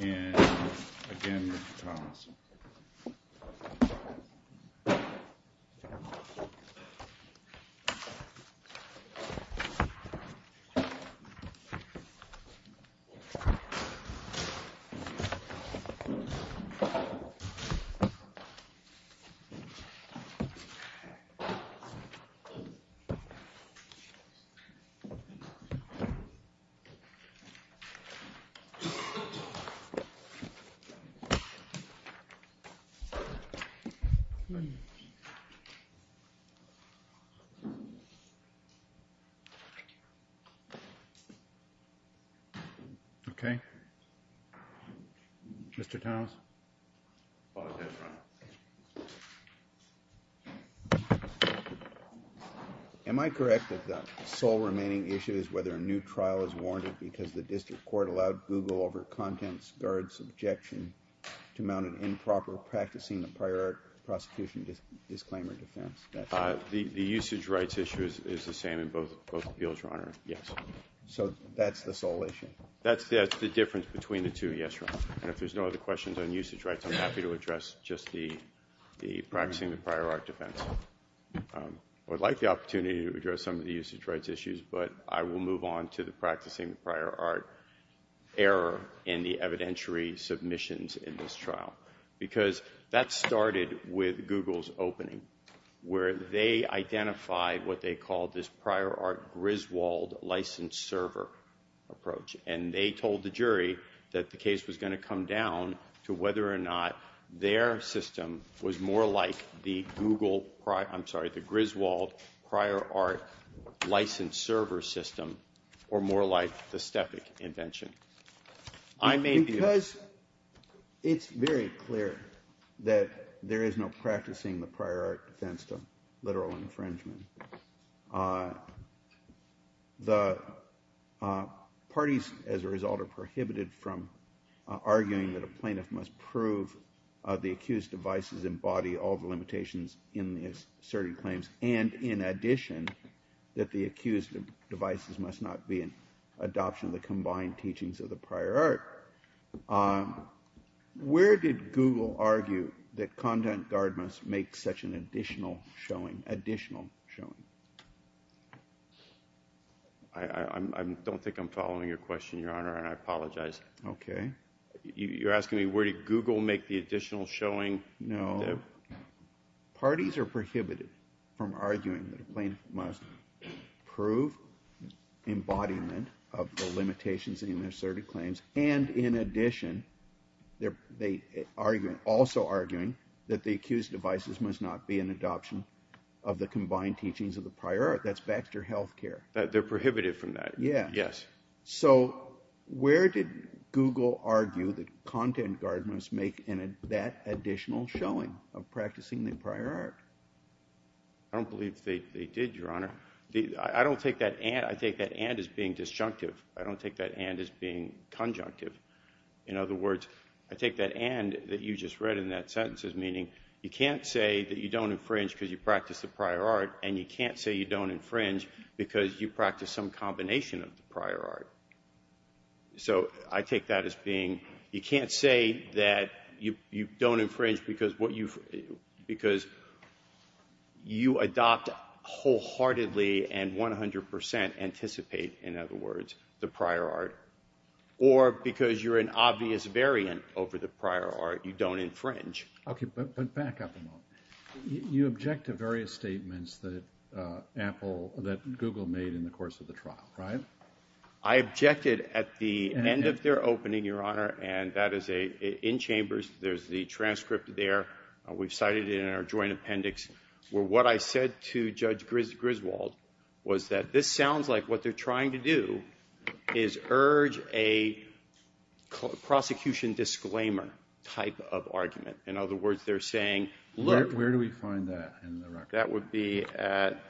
And, again, Mr. Thomas. Am I correct that the sole remaining issue is whether a new trial is warranted because the district court allowed Google over Contents Guard's objection to mount an improper Practicing the Prior Art Prosecution Disclaimer defense? The usage rights issue is the same in both appeals, Your Honor, yes. So that's the sole issue? That's the difference between the two, yes, Your Honor. And if there's no other questions on usage rights, I'm happy to address just the Practicing the Prior Art defense. I would like the opportunity to address some of the usage rights issues, but I will move on to the Practicing the Prior Art error in the evidentiary submissions in this trial. Because that started with Google's opening, where they identified what they called this Prior Art Griswold License Server approach, and they told the jury that the case was going to come down to whether or not their system was more like the Griswold Prior Art License Server system or more like the Stefik invention. I may be— Because it's very clear that there is no Practicing the Prior Art defense to literal infringement. The parties, as a result, are prohibited from arguing that a plaintiff must prove the accused devices embody all the limitations in the asserted claims, and in addition, that the accused devices must not be an adoption of the combined teachings of the Prior Art. Where did Google argue that content guard must make such an additional showing, additional showing? I don't think I'm following your question, Your Honor, and I apologize. Okay. You're asking me where did Google make the additional showing? No. Parties are prohibited from arguing that a plaintiff must prove embodiment of the limitations in the asserted claims, and in addition, they are also arguing that the accused devices must not be an adoption of the combined teachings of the Prior Art. That's back to your health care. They're prohibited from that. Yes. So where did Google argue that content guard must make that additional showing of Practicing the Prior Art? I don't believe they did, Your Honor. I don't take that and as being disjunctive. I don't take that and as being conjunctive. In other words, I take that and that you just read in that sentence as meaning you can't say that you don't infringe because you practice the Prior Art, and you can't say you don't infringe because you adopt wholeheartedly and 100% anticipate, in other words, the Prior Art, or because you're an obvious variant over the Prior Art, you don't infringe. Okay, but back up a moment. You object to various statements that Google made in the course of the trial, right? I objected at the end of their opening, Your Honor, and that is in chambers. There's the transcript there. We've cited it in our joint appendix, where what I said to Judge Griswold was that this sounds like what they're trying to do is urge a prosecution disclaimer type of argument. In other words, they're saying, look. Where do we find that in the record? That would be at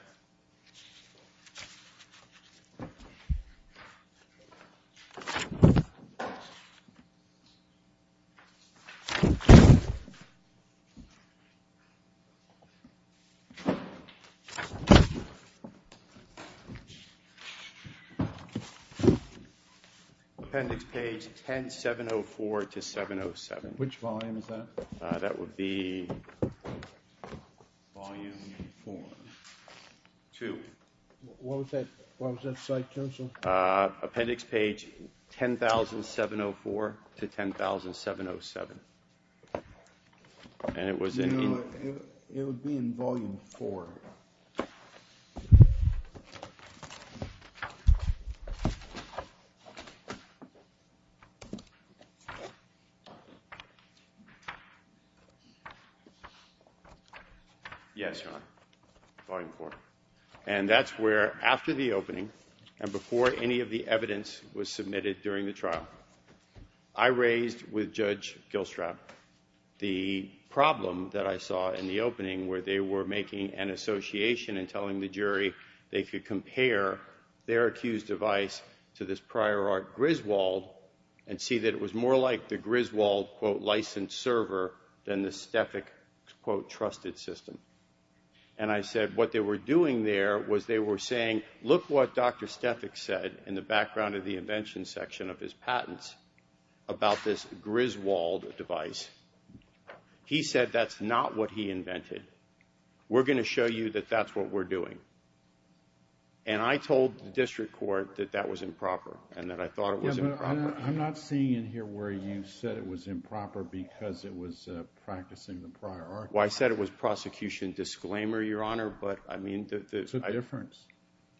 appendix page 10704 to 707. Which volume is that? That would be volume two. What was that? What was that, site counsel? Appendix page 10704 to 10707. And it was in. It would be in volume four. Yes, Your Honor. Volume four. And that's where, after the opening, and before any of the evidence was submitted during the trial, I raised with Judge Gilstrap the problem that I saw in the opening, where they were making an association and telling the jury they could compare their accused device to this Prior Art Griswold, and see that it was more like the Griswold, quote, licensed server than the Stefik, quote, trusted system. And I said, what they were doing there was they were saying, look what Dr. Stefik said, in the background of the invention section of his patents, about this Griswold device. He said that's not what he invented. We're going to show you that that's what we're doing. And I told the district court that that was improper, and that I thought it was improper. I'm not seeing in here where you said it was improper because it was practicing the Prior Art. Well, I said it was prosecution disclaimer, Your Honor. But I mean, that's a difference.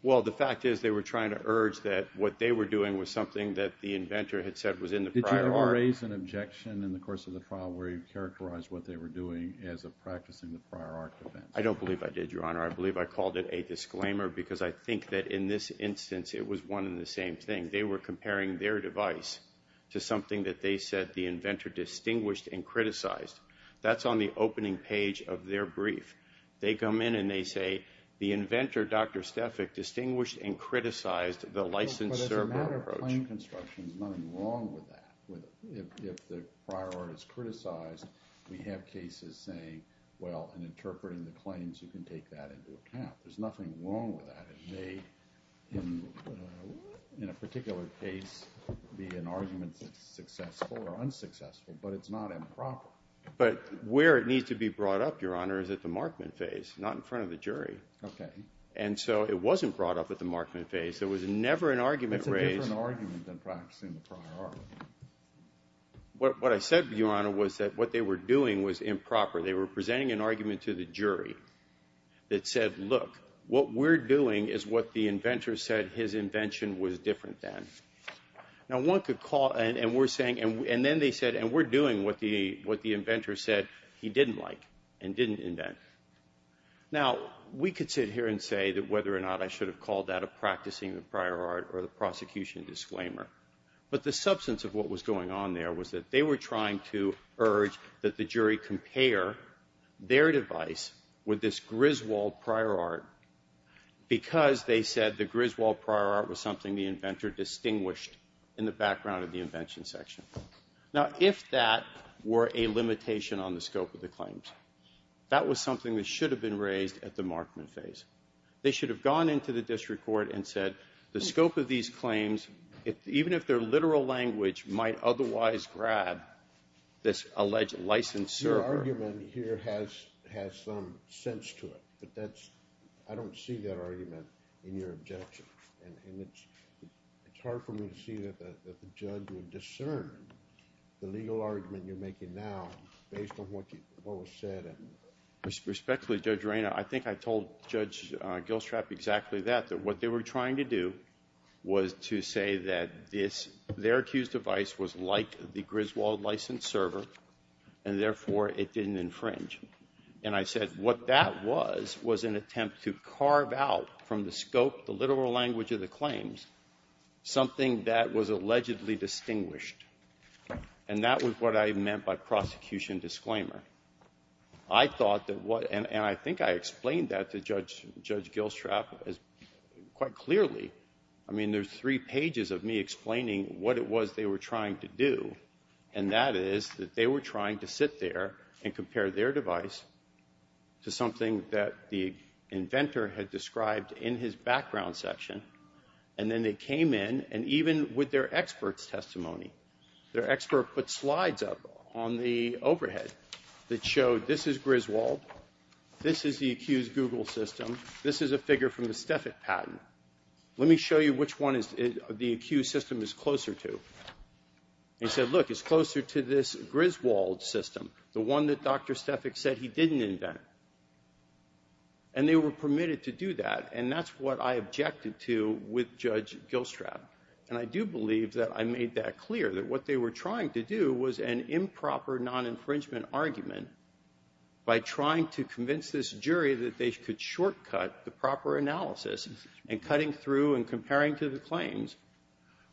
Well, the fact is, they were trying to urge that what they were doing was something that the inventor had said was in the Prior Art. Did you ever raise an objection in the course of the trial where you characterized what they were doing as a practicing the Prior Art defense? I don't believe I did, Your Honor. I believe I called it a disclaimer, because I think that in this instance, it was one and the same thing. They were comparing their device to something that they said the inventor distinguished and criticized. That's on the opening page of their brief. They come in and they say, the inventor, Dr. Stefik, distinguished and criticized the licensed server approach. But as a matter of plain construction, there's nothing wrong with that. If the Prior Art is criticized, we have cases saying, well, in interpreting the claims, you can take that into account. There's nothing wrong with that. It may, in a particular case, be an argument that's successful or unsuccessful, but it's not improper. But where it needs to be brought up, Your Honor, is at the markman phase, not in front of the jury. OK. And so it wasn't brought up at the markman phase. There was never an argument raised. It's a different argument than practicing the Prior Art. What I said, Your Honor, was that what they were doing was improper. They were presenting an argument to the jury that said, look, what we're doing is what the inventor said his invention was different than. Now, one could call, and we're saying, and then they said, and we're doing what the inventor said he didn't like and didn't invent. Now, we could sit here and say that whether or not I should have called that a practicing the Prior Art or the prosecution disclaimer. But the substance of what was going on there was that they were trying to urge that the jury compare their device with this Griswold Prior Art because they said the Griswold Prior Art was something the inventor distinguished in the background of the invention section. Now, if that were a limitation on the scope of the claims, that was something that should have been raised at the markman phase. They should have gone into the district court and said, the scope of these claims, even if they're literal language, might otherwise grab this alleged licensure. Your argument here has some sense to it, but that's, I don't see that argument in your objection, and it's hard for me to see that the judge would discern the legal argument you're making now based on what was said. Respectfully, Judge Reyna, I think I told Judge Gilstrap exactly that, that what they were trying to do was to say that their accused device was like the Griswold licensed server, and therefore, it didn't infringe. And I said, what that was, was an attempt to carve out from the scope, the literal language of the claims, something that was allegedly distinguished, and that was what I meant by prosecution disclaimer. I thought that what, and I think I explained that to Judge Gilstrap quite clearly. I mean, there's three pages of me explaining what it was they were trying to do, and that is that they were trying to sit there and compare their device to something that the inventor had described in his background section. And then they came in, and even with their expert's testimony, their expert put slides up on the overhead that showed this is Griswold, this is the accused Google system, this is a figure from the Stefik patent. Let me show you which one the accused system is closer to. He said, look, it's closer to this Griswold system, the one that Dr. Stefik said he didn't invent. And they were permitted to do that, and that's what I objected to with Judge Gilstrap. And I do believe that I made that clear, that what they were trying to do was an improper non-infringement argument by trying to convince this jury that they could shortcut the proper analysis and cutting through and comparing to the claims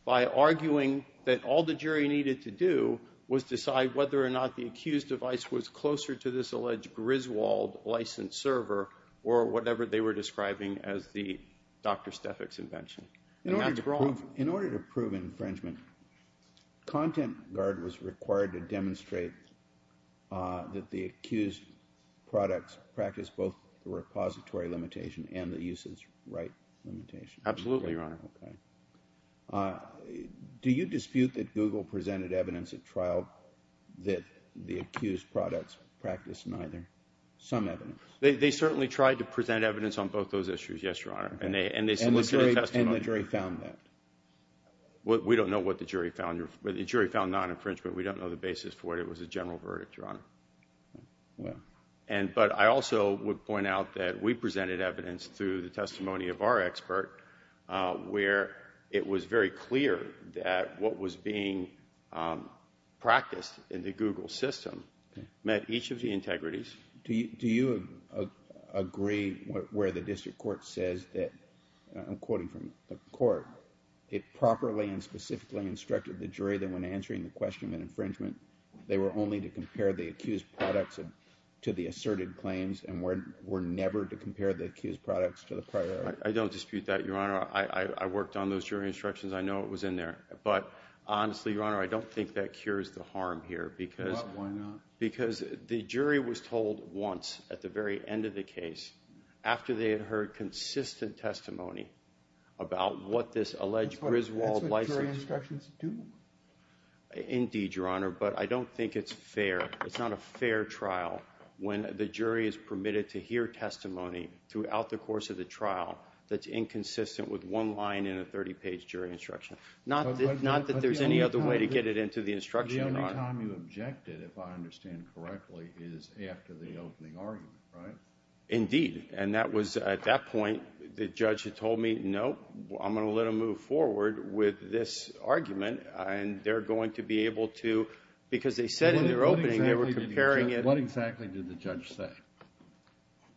by arguing that all the jury needed to do was decide whether or not the accused device was closer to this alleged Griswold system. Griswold license server, or whatever they were describing as the Dr. Stefik's invention. In order to prove infringement, content guard was required to demonstrate that the accused products practiced both the repository limitation and the usage right limitation. Absolutely, Your Honor. Do you dispute that Google presented evidence at trial that the accused products practiced neither? Some evidence? They certainly tried to present evidence on both those issues, yes, Your Honor. And the jury found that? We don't know what the jury found. The jury found non-infringement. We don't know the basis for it. It was a general verdict, Your Honor. But I also would point out that we presented evidence through the testimony of our expert where it was very clear that what was being practiced in the Google system met each of the integrities. Do you agree where the district court says that, I'm quoting from the court, it properly and specifically instructed the jury that when answering the question of infringement, they were only to compare the accused products to the asserted claims and were never to compare the accused products to the prior? I don't dispute that, Your Honor. I worked on those jury instructions. I know it was in there. But honestly, Your Honor, I don't think that cures the harm here. Why not? Because the jury was told once at the very end of the case after they had heard consistent testimony about what this alleged Griswold license… That's what jury instructions do. Indeed, Your Honor, but I don't think it's fair. It's not a fair trial when the jury is permitted to hear testimony throughout the course of the trial that's inconsistent with one line in a 30-page jury instruction. Not that there's any other way to get it into the instruction, Your Honor. The time you objected, if I understand correctly, is after the opening argument, right? Indeed, and that was at that point the judge had told me, no, I'm going to let them move forward with this argument and they're going to be able to… Because they said in their opening they were comparing it… What exactly did the judge say?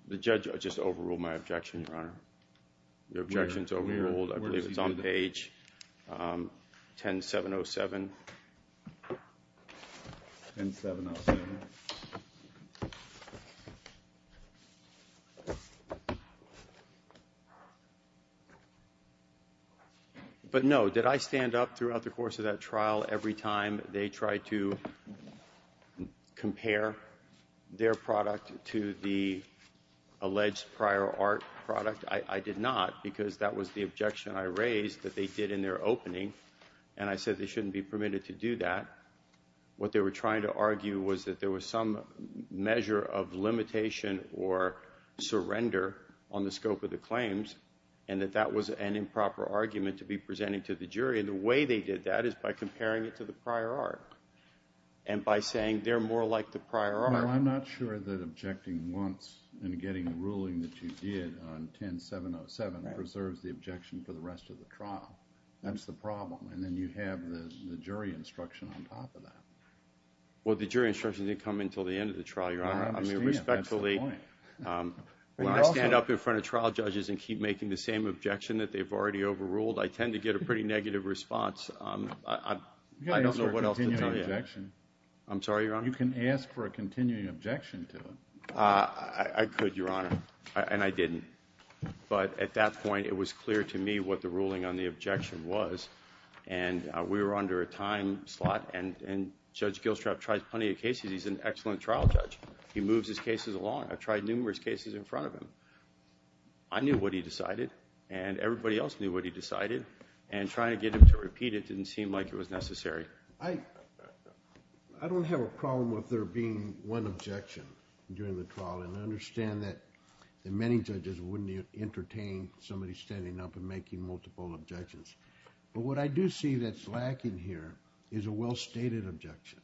The judge just overruled my objection, Your Honor. Your objection is overruled. I believe it's on page 10707. 10707. But, no, did I stand up throughout the course of that trial every time they tried to compare their product to the alleged prior art product? I did not because that was the objection I raised that they did in their opening and I said they shouldn't be permitted to do that. What they were trying to argue was that there was some measure of limitation or surrender on the scope of the claims and that that was an improper argument to be presenting to the jury. And the way they did that is by comparing it to the prior art and by saying they're more like the prior art. Well, I'm not sure that objecting once and getting a ruling that you did on 10707 preserves the objection for the rest of the trial. That's the problem. And then you have the jury instruction on top of that. Well, the jury instruction didn't come in until the end of the trial, Your Honor. I understand. That's the point. I mean, respectfully, when I stand up in front of trial judges and keep making the same objection that they've already overruled, I tend to get a pretty negative response. I don't know what else to tell you. I'm sorry, Your Honor? I could, Your Honor, and I didn't. But at that point, it was clear to me what the ruling on the objection was, and we were under a time slot. And Judge Gilstrap tried plenty of cases. He's an excellent trial judge. He moves his cases along. I've tried numerous cases in front of him. I knew what he decided, and everybody else knew what he decided. And trying to get him to repeat it didn't seem like it was necessary. I don't have a problem with there being one objection during the trial, and I understand that many judges wouldn't entertain somebody standing up and making multiple objections. But what I do see that's lacking here is a well-stated objection.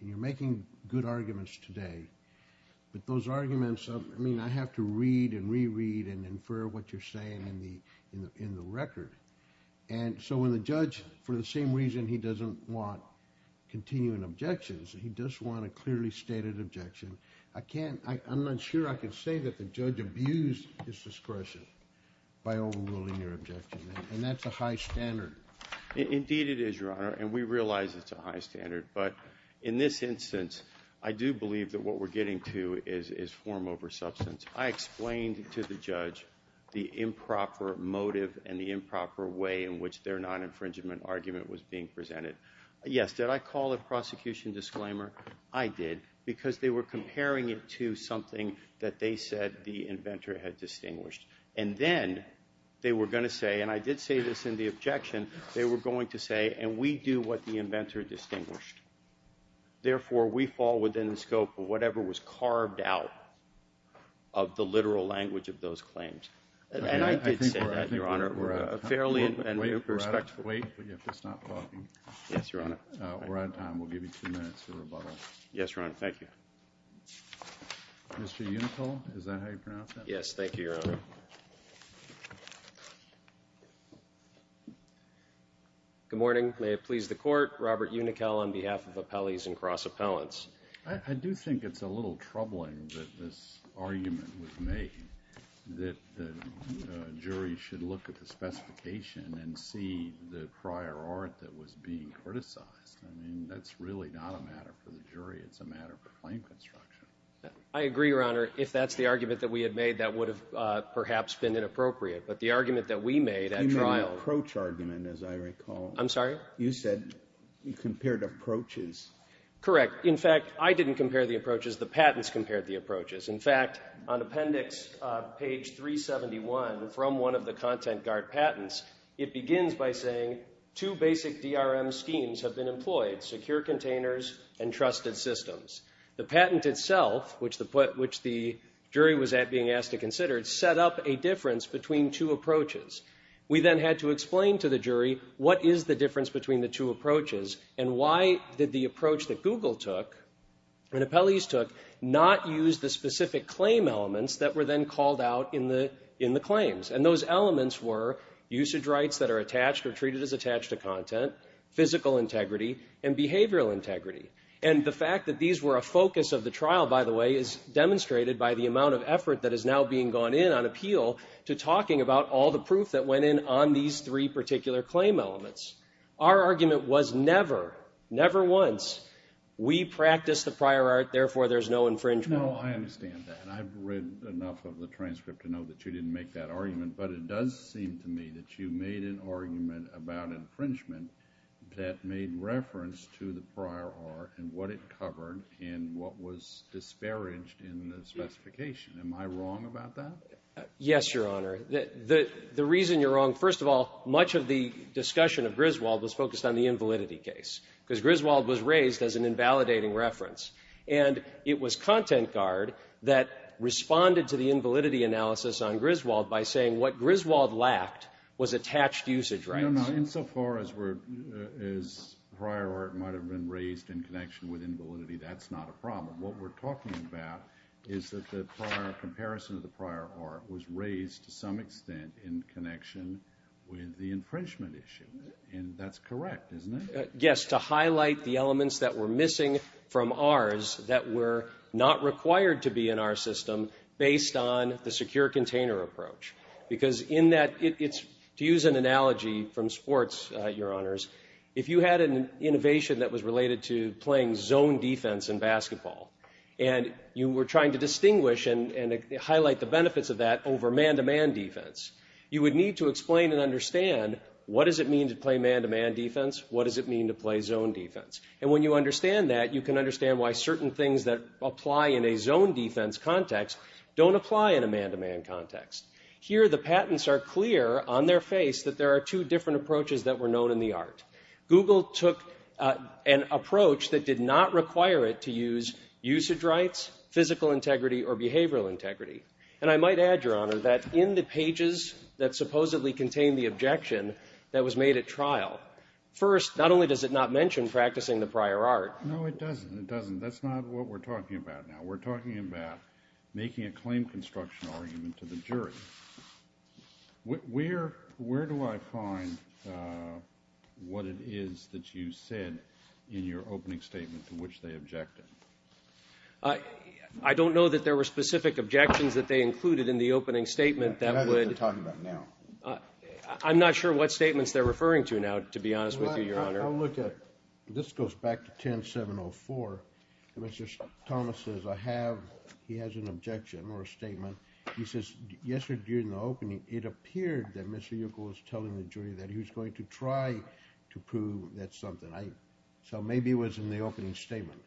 You're making good arguments today, but those arguments, I mean, I have to read and reread and infer what you're saying in the record. And so when the judge, for the same reason he doesn't want continuing objections, he does want a clearly stated objection, I'm not sure I can say that the judge abused his discretion by overruling your objection, and that's a high standard. Indeed it is, Your Honor, and we realize it's a high standard. But in this instance, I do believe that what we're getting to is form over substance. I explained to the judge the improper motive and the improper way in which their non-infringement argument was being presented. Yes, did I call it prosecution disclaimer? I did, because they were comparing it to something that they said the inventor had distinguished. And then they were going to say, and I did say this in the objection, they were going to say, and we do what the inventor distinguished. Therefore, we fall within the scope of whatever was carved out of the literal language of those claims. And I did say that, Your Honor, fairly and respectfully. Wait, but you have to stop talking. Yes, Your Honor. We're on time. We'll give you two minutes to rebuttal. Yes, Your Honor, thank you. Mr. Unickel, is that how you pronounce that? Yes, thank you, Your Honor. Good morning. May it please the Court, Robert Unickel on behalf of Appellees and Cross Appellants. I do think it's a little troubling that this argument was made that the jury should look at the specification and see the prior art that was being criticized. I mean, that's really not a matter for the jury. It's a matter for claim construction. I agree, Your Honor. If that's the argument that we had made, that would have perhaps been inappropriate. But the argument that we made at trial— You made an approach argument, as I recall. I'm sorry? You said you compared approaches. Correct. In fact, I didn't compare the approaches. The patents compared the approaches. In fact, on Appendix page 371 from one of the Content Guard patents, it begins by saying, Two basic DRM schemes have been employed—secure containers and trusted systems. The patent itself, which the jury was being asked to consider, set up a difference between two approaches. We then had to explain to the jury, what is the difference between the two approaches, and why did the approach that Google took and Appellees took not use the specific claim elements that were then called out in the claims? And those elements were usage rights that are attached or treated as attached to content, physical integrity, and behavioral integrity. And the fact that these were a focus of the trial, by the way, is demonstrated by the amount of effort that is now being gone in on appeal to talking about all the proof that went in on these three particular claim elements. Our argument was never, never once, we practice the prior art, therefore there's no infringement. No, I understand that. I've read enough of the transcript to know that you didn't make that argument, but it does seem to me that you made an argument about infringement that made reference to the prior art and what it covered and what was disparaged in the specification. Am I wrong about that? Yes, Your Honor. The reason you're wrong, first of all, much of the discussion of Griswold was focused on the invalidity case, because Griswold was raised as an invalidating reference. And it was Content Guard that responded to the invalidity analysis on Griswold by saying what Griswold lacked was attached usage rights. No, no, insofar as prior art might have been raised in connection with invalidity, that's not a problem. What we're talking about is that the comparison of the prior art was raised to some extent in connection with the infringement issue, and that's correct, isn't it? Yes, to highlight the elements that were missing from ours that were not required to be in our system based on the secure container approach. Because in that, to use an analogy from sports, Your Honors, if you had an innovation that was related to playing zone defense in basketball and you were trying to distinguish and highlight the benefits of that over man-to-man defense, you would need to explain and understand what does it mean to play man-to-man defense, what does it mean to play zone defense. And when you understand that, you can understand why certain things that apply in a zone defense context don't apply in a man-to-man context. Here the patents are clear on their face that there are two different approaches that were known in the art. Google took an approach that did not require it to use usage rights, physical integrity, or behavioral integrity. And I might add, Your Honor, that in the pages that supposedly contain the objection that was made at trial, first, not only does it not mention practicing the prior art. No, it doesn't. It doesn't. That's not what we're talking about now. We're talking about making a claim construction argument to the jury. Where do I find what it is that you said in your opening statement to which they objected? I don't know that there were specific objections that they included in the opening statement that would – That's what we're talking about now. I'm not sure what statements they're referring to now, to be honest with you, Your Honor. I'll look at – this goes back to 10704. Mr. Thomas says, I have – he has an objection or a statement. He says, yesterday in the opening, it appeared that Mr. Yuckel was telling the jury that he was going to try to prove that something. So maybe it was in the opening statement.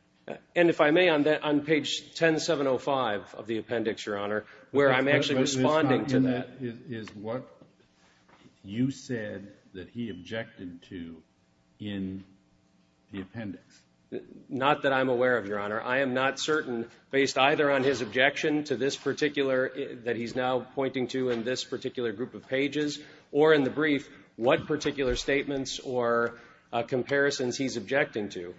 And if I may, on page 10705 of the appendix, Your Honor, where I'm actually responding to that. That is what you said that he objected to in the appendix. Not that I'm aware of, Your Honor. I am not certain, based either on his objection to this particular – that he's now pointing to in this particular group of pages or in the brief, what particular statements or comparisons he's objecting to.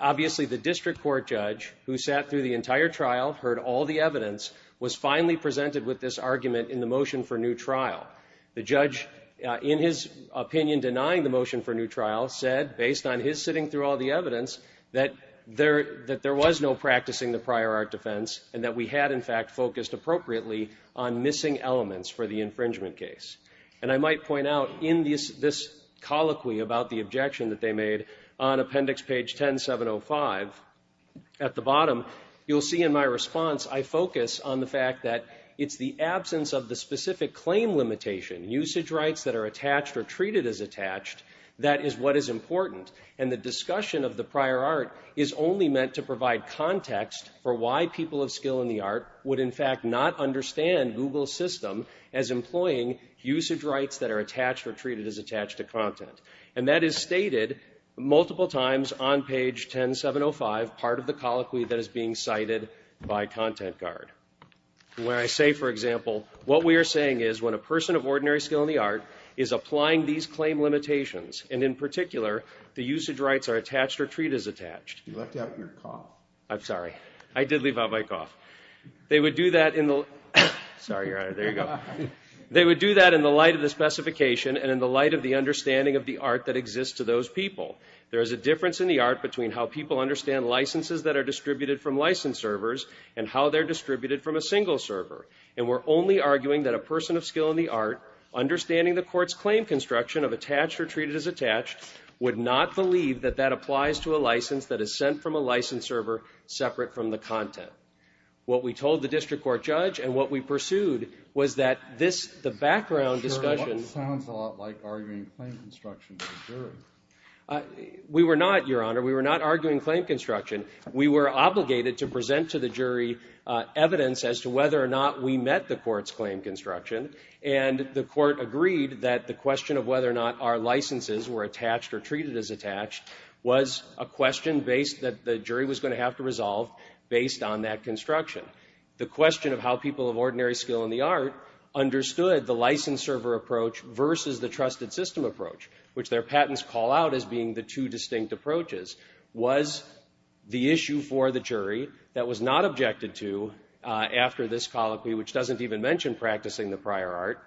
Obviously, the district court judge, who sat through the entire trial, heard all the evidence, was finally presented with this argument in the motion for new trial. The judge, in his opinion, denying the motion for new trial, said, based on his sitting through all the evidence, that there was no practicing the prior art defense and that we had, in fact, focused appropriately on missing elements for the infringement case. And I might point out, in this colloquy about the objection that they made on appendix page 10705, at the bottom, you'll see in my response, I focus on the fact that it's the absence of the specific claim limitation, usage rights that are attached or treated as attached, that is what is important. And the discussion of the prior art is only meant to provide context for why people of skill in the art would, in fact, not understand Google's system as employing usage rights that are attached or treated as attached to content. And that is stated multiple times on page 10705, part of the colloquy that is being cited by ContentGuard. Where I say, for example, what we are saying is, when a person of ordinary skill in the art is applying these claim limitations, and in particular, the usage rights are attached or treated as attached. You left out your cough. I'm sorry. I did leave out my cough. They would do that in the light of the specification and in the light of the understanding of the art that exists to those people. There is a difference in the art between how people understand licenses that are distributed from license servers and how they're distributed from a single server. And we're only arguing that a person of skill in the art, understanding the court's claim construction of attached or treated as attached, would not believe that that applies to a license that is sent from a license server separate from the content. What we told the district court judge and what we pursued was that this, the background discussion. It sounds a lot like arguing claim construction to a jury. We were not, Your Honor. We were not arguing claim construction. We were obligated to present to the jury evidence as to whether or not we met the court's claim construction. And the court agreed that the question of whether or not our licenses were attached or treated as attached was a question that the jury was going to have to resolve based on that construction. The question of how people of ordinary skill in the art understood the license server approach versus the trusted system approach, which their patents call out as being the two distinct approaches, was the issue for the jury that was not objected to after this colloquy, which doesn't even mention practicing the prior art.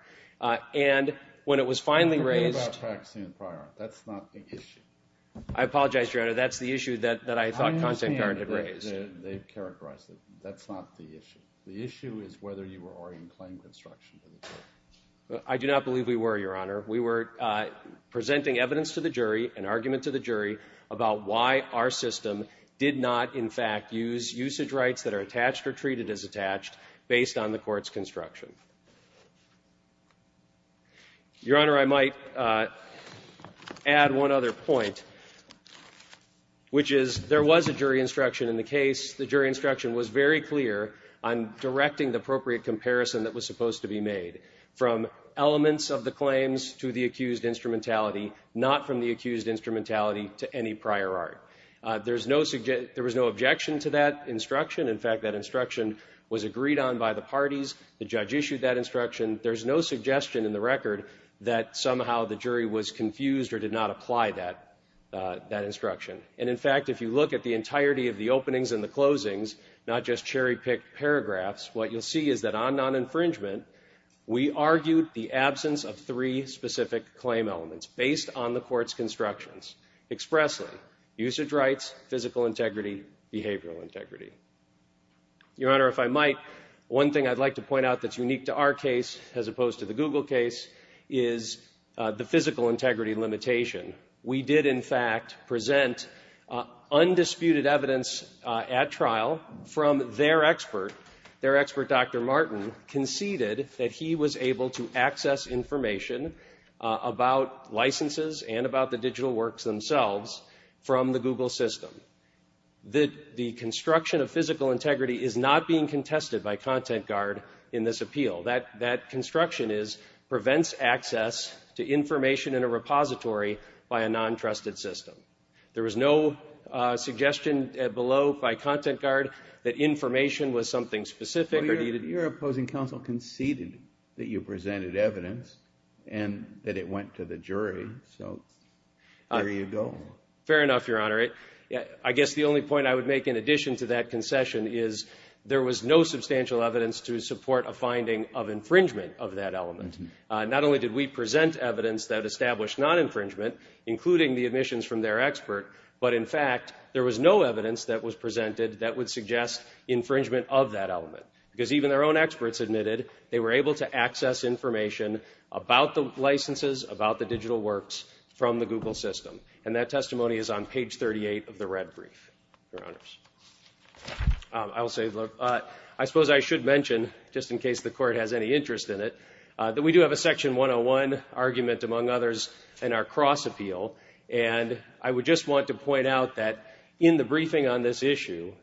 And when it was finally raised. I'm talking about practicing the prior art. That's not the issue. I apologize, Your Honor. That's the issue that I thought Content Guard had raised. They've characterized it. That's not the issue. The issue is whether you were arguing claim construction. I do not believe we were, Your Honor. We were presenting evidence to the jury, an argument to the jury, about why our system did not, in fact, use usage rights that are attached or treated as attached, based on the court's construction. Your Honor, I might add one other point, which is there was a jury instruction in the case. The jury instruction was very clear on directing the appropriate comparison that was supposed to be made, from elements of the claims to the accused instrumentality, not from the accused instrumentality to any prior art. There was no objection to that instruction. In fact, that instruction was agreed on by the parties. The judge issued that instruction. There's no suggestion in the record that somehow the jury was confused or did not apply that instruction. And, in fact, if you look at the entirety of the openings and the closings, not just cherry-picked paragraphs, what you'll see is that on non-infringement, we argued the absence of three specific claim elements based on the court's constructions expressly, usage rights, physical integrity, behavioral integrity. Your Honor, if I might, one thing I'd like to point out that's unique to our case, as opposed to the Google case, is the physical integrity limitation. We did, in fact, present undisputed evidence at trial from their expert. Their expert, Dr. Martin, conceded that he was able to access information about licenses and about the digital works themselves from the Google system. The construction of physical integrity is not being contested by content guard in this appeal. That construction prevents access to information in a repository by a non-trusted system. There was no suggestion below by content guard that information was something specific or needed. Your opposing counsel conceded that you presented evidence and that it went to the jury, so there you go. Fair enough, Your Honor. I guess the only point I would make in addition to that concession is there was no substantial evidence to support a finding of infringement of that element. Not only did we present evidence that established non-infringement, including the admissions from their expert, but, in fact, there was no evidence that was presented that would suggest infringement of that element, because even their own experts admitted they were able to access information about the licenses, about the digital works from the Google system. And that testimony is on page 38 of the red brief, Your Honors. I suppose I should mention, just in case the Court has any interest in it, that we do have a Section 101 argument, among others, in our cross-appeal, and I would just want to point out that in the briefing on this issue,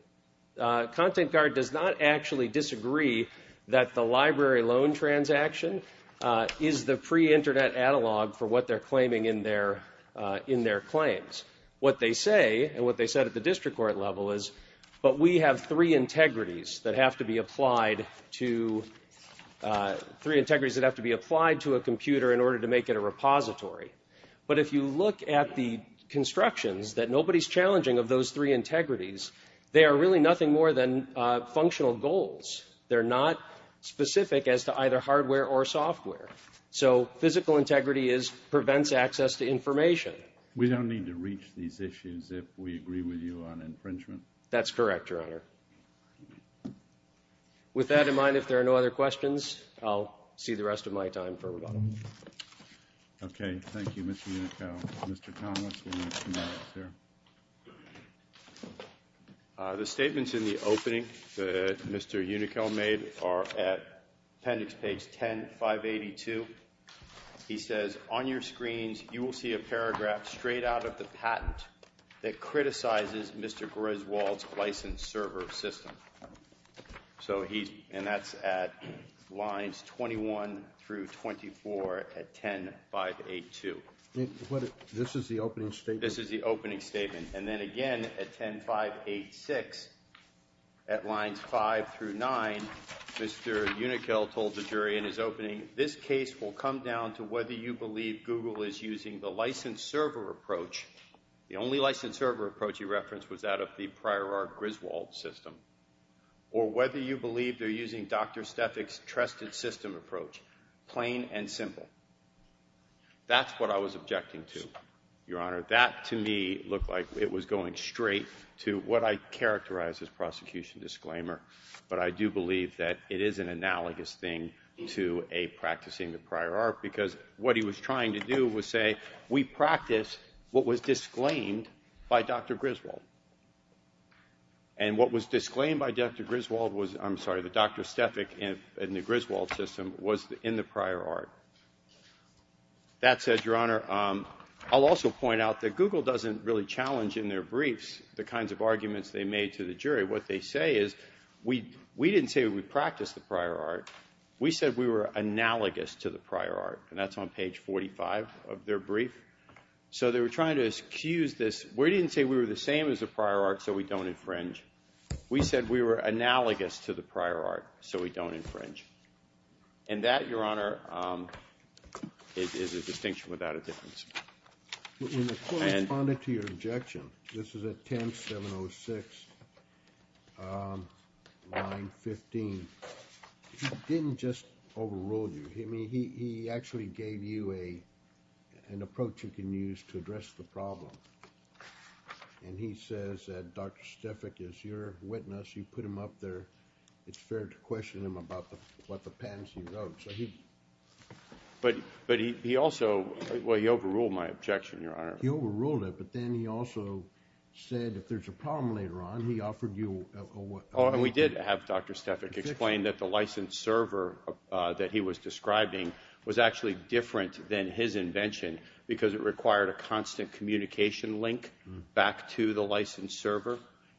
content guard does not actually disagree that the library loan transaction is the pre-Internet analog for what they're claiming in their claims. What they say, and what they said at the district court level, is, but we have three integrities that have to be applied to a computer in order to make it a repository. But if you look at the constructions that nobody's challenging of those three integrities, they are really nothing more than functional goals. They're not specific as to either hardware or software. So physical integrity prevents access to information. We don't need to reach these issues if we agree with you on infringement? That's correct, Your Honor. With that in mind, if there are no other questions, I'll see the rest of my time for rebuttal. Okay, thank you, Mr. Unickel. Mr. Connell, what's going on here? The statements in the opening that Mr. Unickel made are at appendix page 10582. He says, on your screens you will see a paragraph straight out of the patent that criticizes Mr. Griswold's license server system. And that's at lines 21 through 24 at 10582. This is the opening statement? This is the opening statement. And then again at 10586, at lines 5 through 9, Mr. Unickel told the jury in his opening, this case will come down to whether you believe Google is using the license server approach, the only license server approach he referenced was that of the Prior Art Griswold system, or whether you believe they're using Dr. Stefik's trusted system approach, plain and simple. That's what I was objecting to, Your Honor. That, to me, looked like it was going straight to what I characterize as prosecution disclaimer. But I do believe that it is an analogous thing to a practicing the Prior Art, because what he was trying to do was say, we practice what was disclaimed by Dr. Griswold. And what was disclaimed by Dr. Griswold was, I'm sorry, the Dr. Stefik in the Griswold system was in the Prior Art. That said, Your Honor, I'll also point out that Google doesn't really challenge in their briefs the kinds of arguments they made to the jury. What they say is, we didn't say we practiced the Prior Art. We said we were analogous to the Prior Art. And that's on page 45 of their brief. So they were trying to excuse this. We didn't say we were the same as the Prior Art, so we don't infringe. We said we were analogous to the Prior Art, so we don't infringe. And that, Your Honor, is a distinction without a difference. The court responded to your objection. This is at 10706, line 15. He didn't just overrule you. He actually gave you an approach you can use to address the problem. And he says that Dr. Stefik is your witness. You put him up there. It's fair to question him about what the patents he wrote. But he also, well, he overruled my objection, Your Honor. He overruled it, but then he also said if there's a problem later on, he offered you a way. Oh, and we did have Dr. Stefik explain that the license server that he was describing was actually different than his invention because it required a constant communication link back to the license server.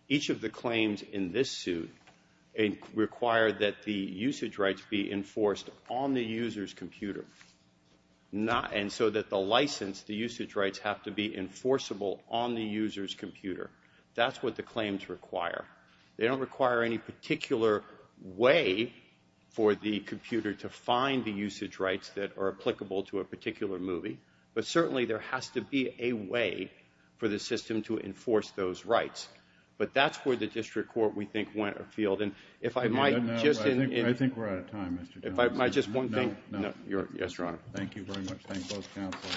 Each of the claims in this suit require that the usage rights be enforced on the user's computer. And so that the license, the usage rights have to be enforceable on the user's computer. That's what the claims require. They don't require any particular way for the computer to find the usage rights that are applicable to a particular movie. But certainly there has to be a way for the system to enforce those rights. But that's where the district court, we think, went afield. And if I might just – I think we're out of time, Mr. Townsend. If I might just – No, no. Yes, Your Honor. Thank you very much. Thank both counsel.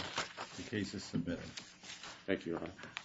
The case is submitted. Thank you, Your Honor.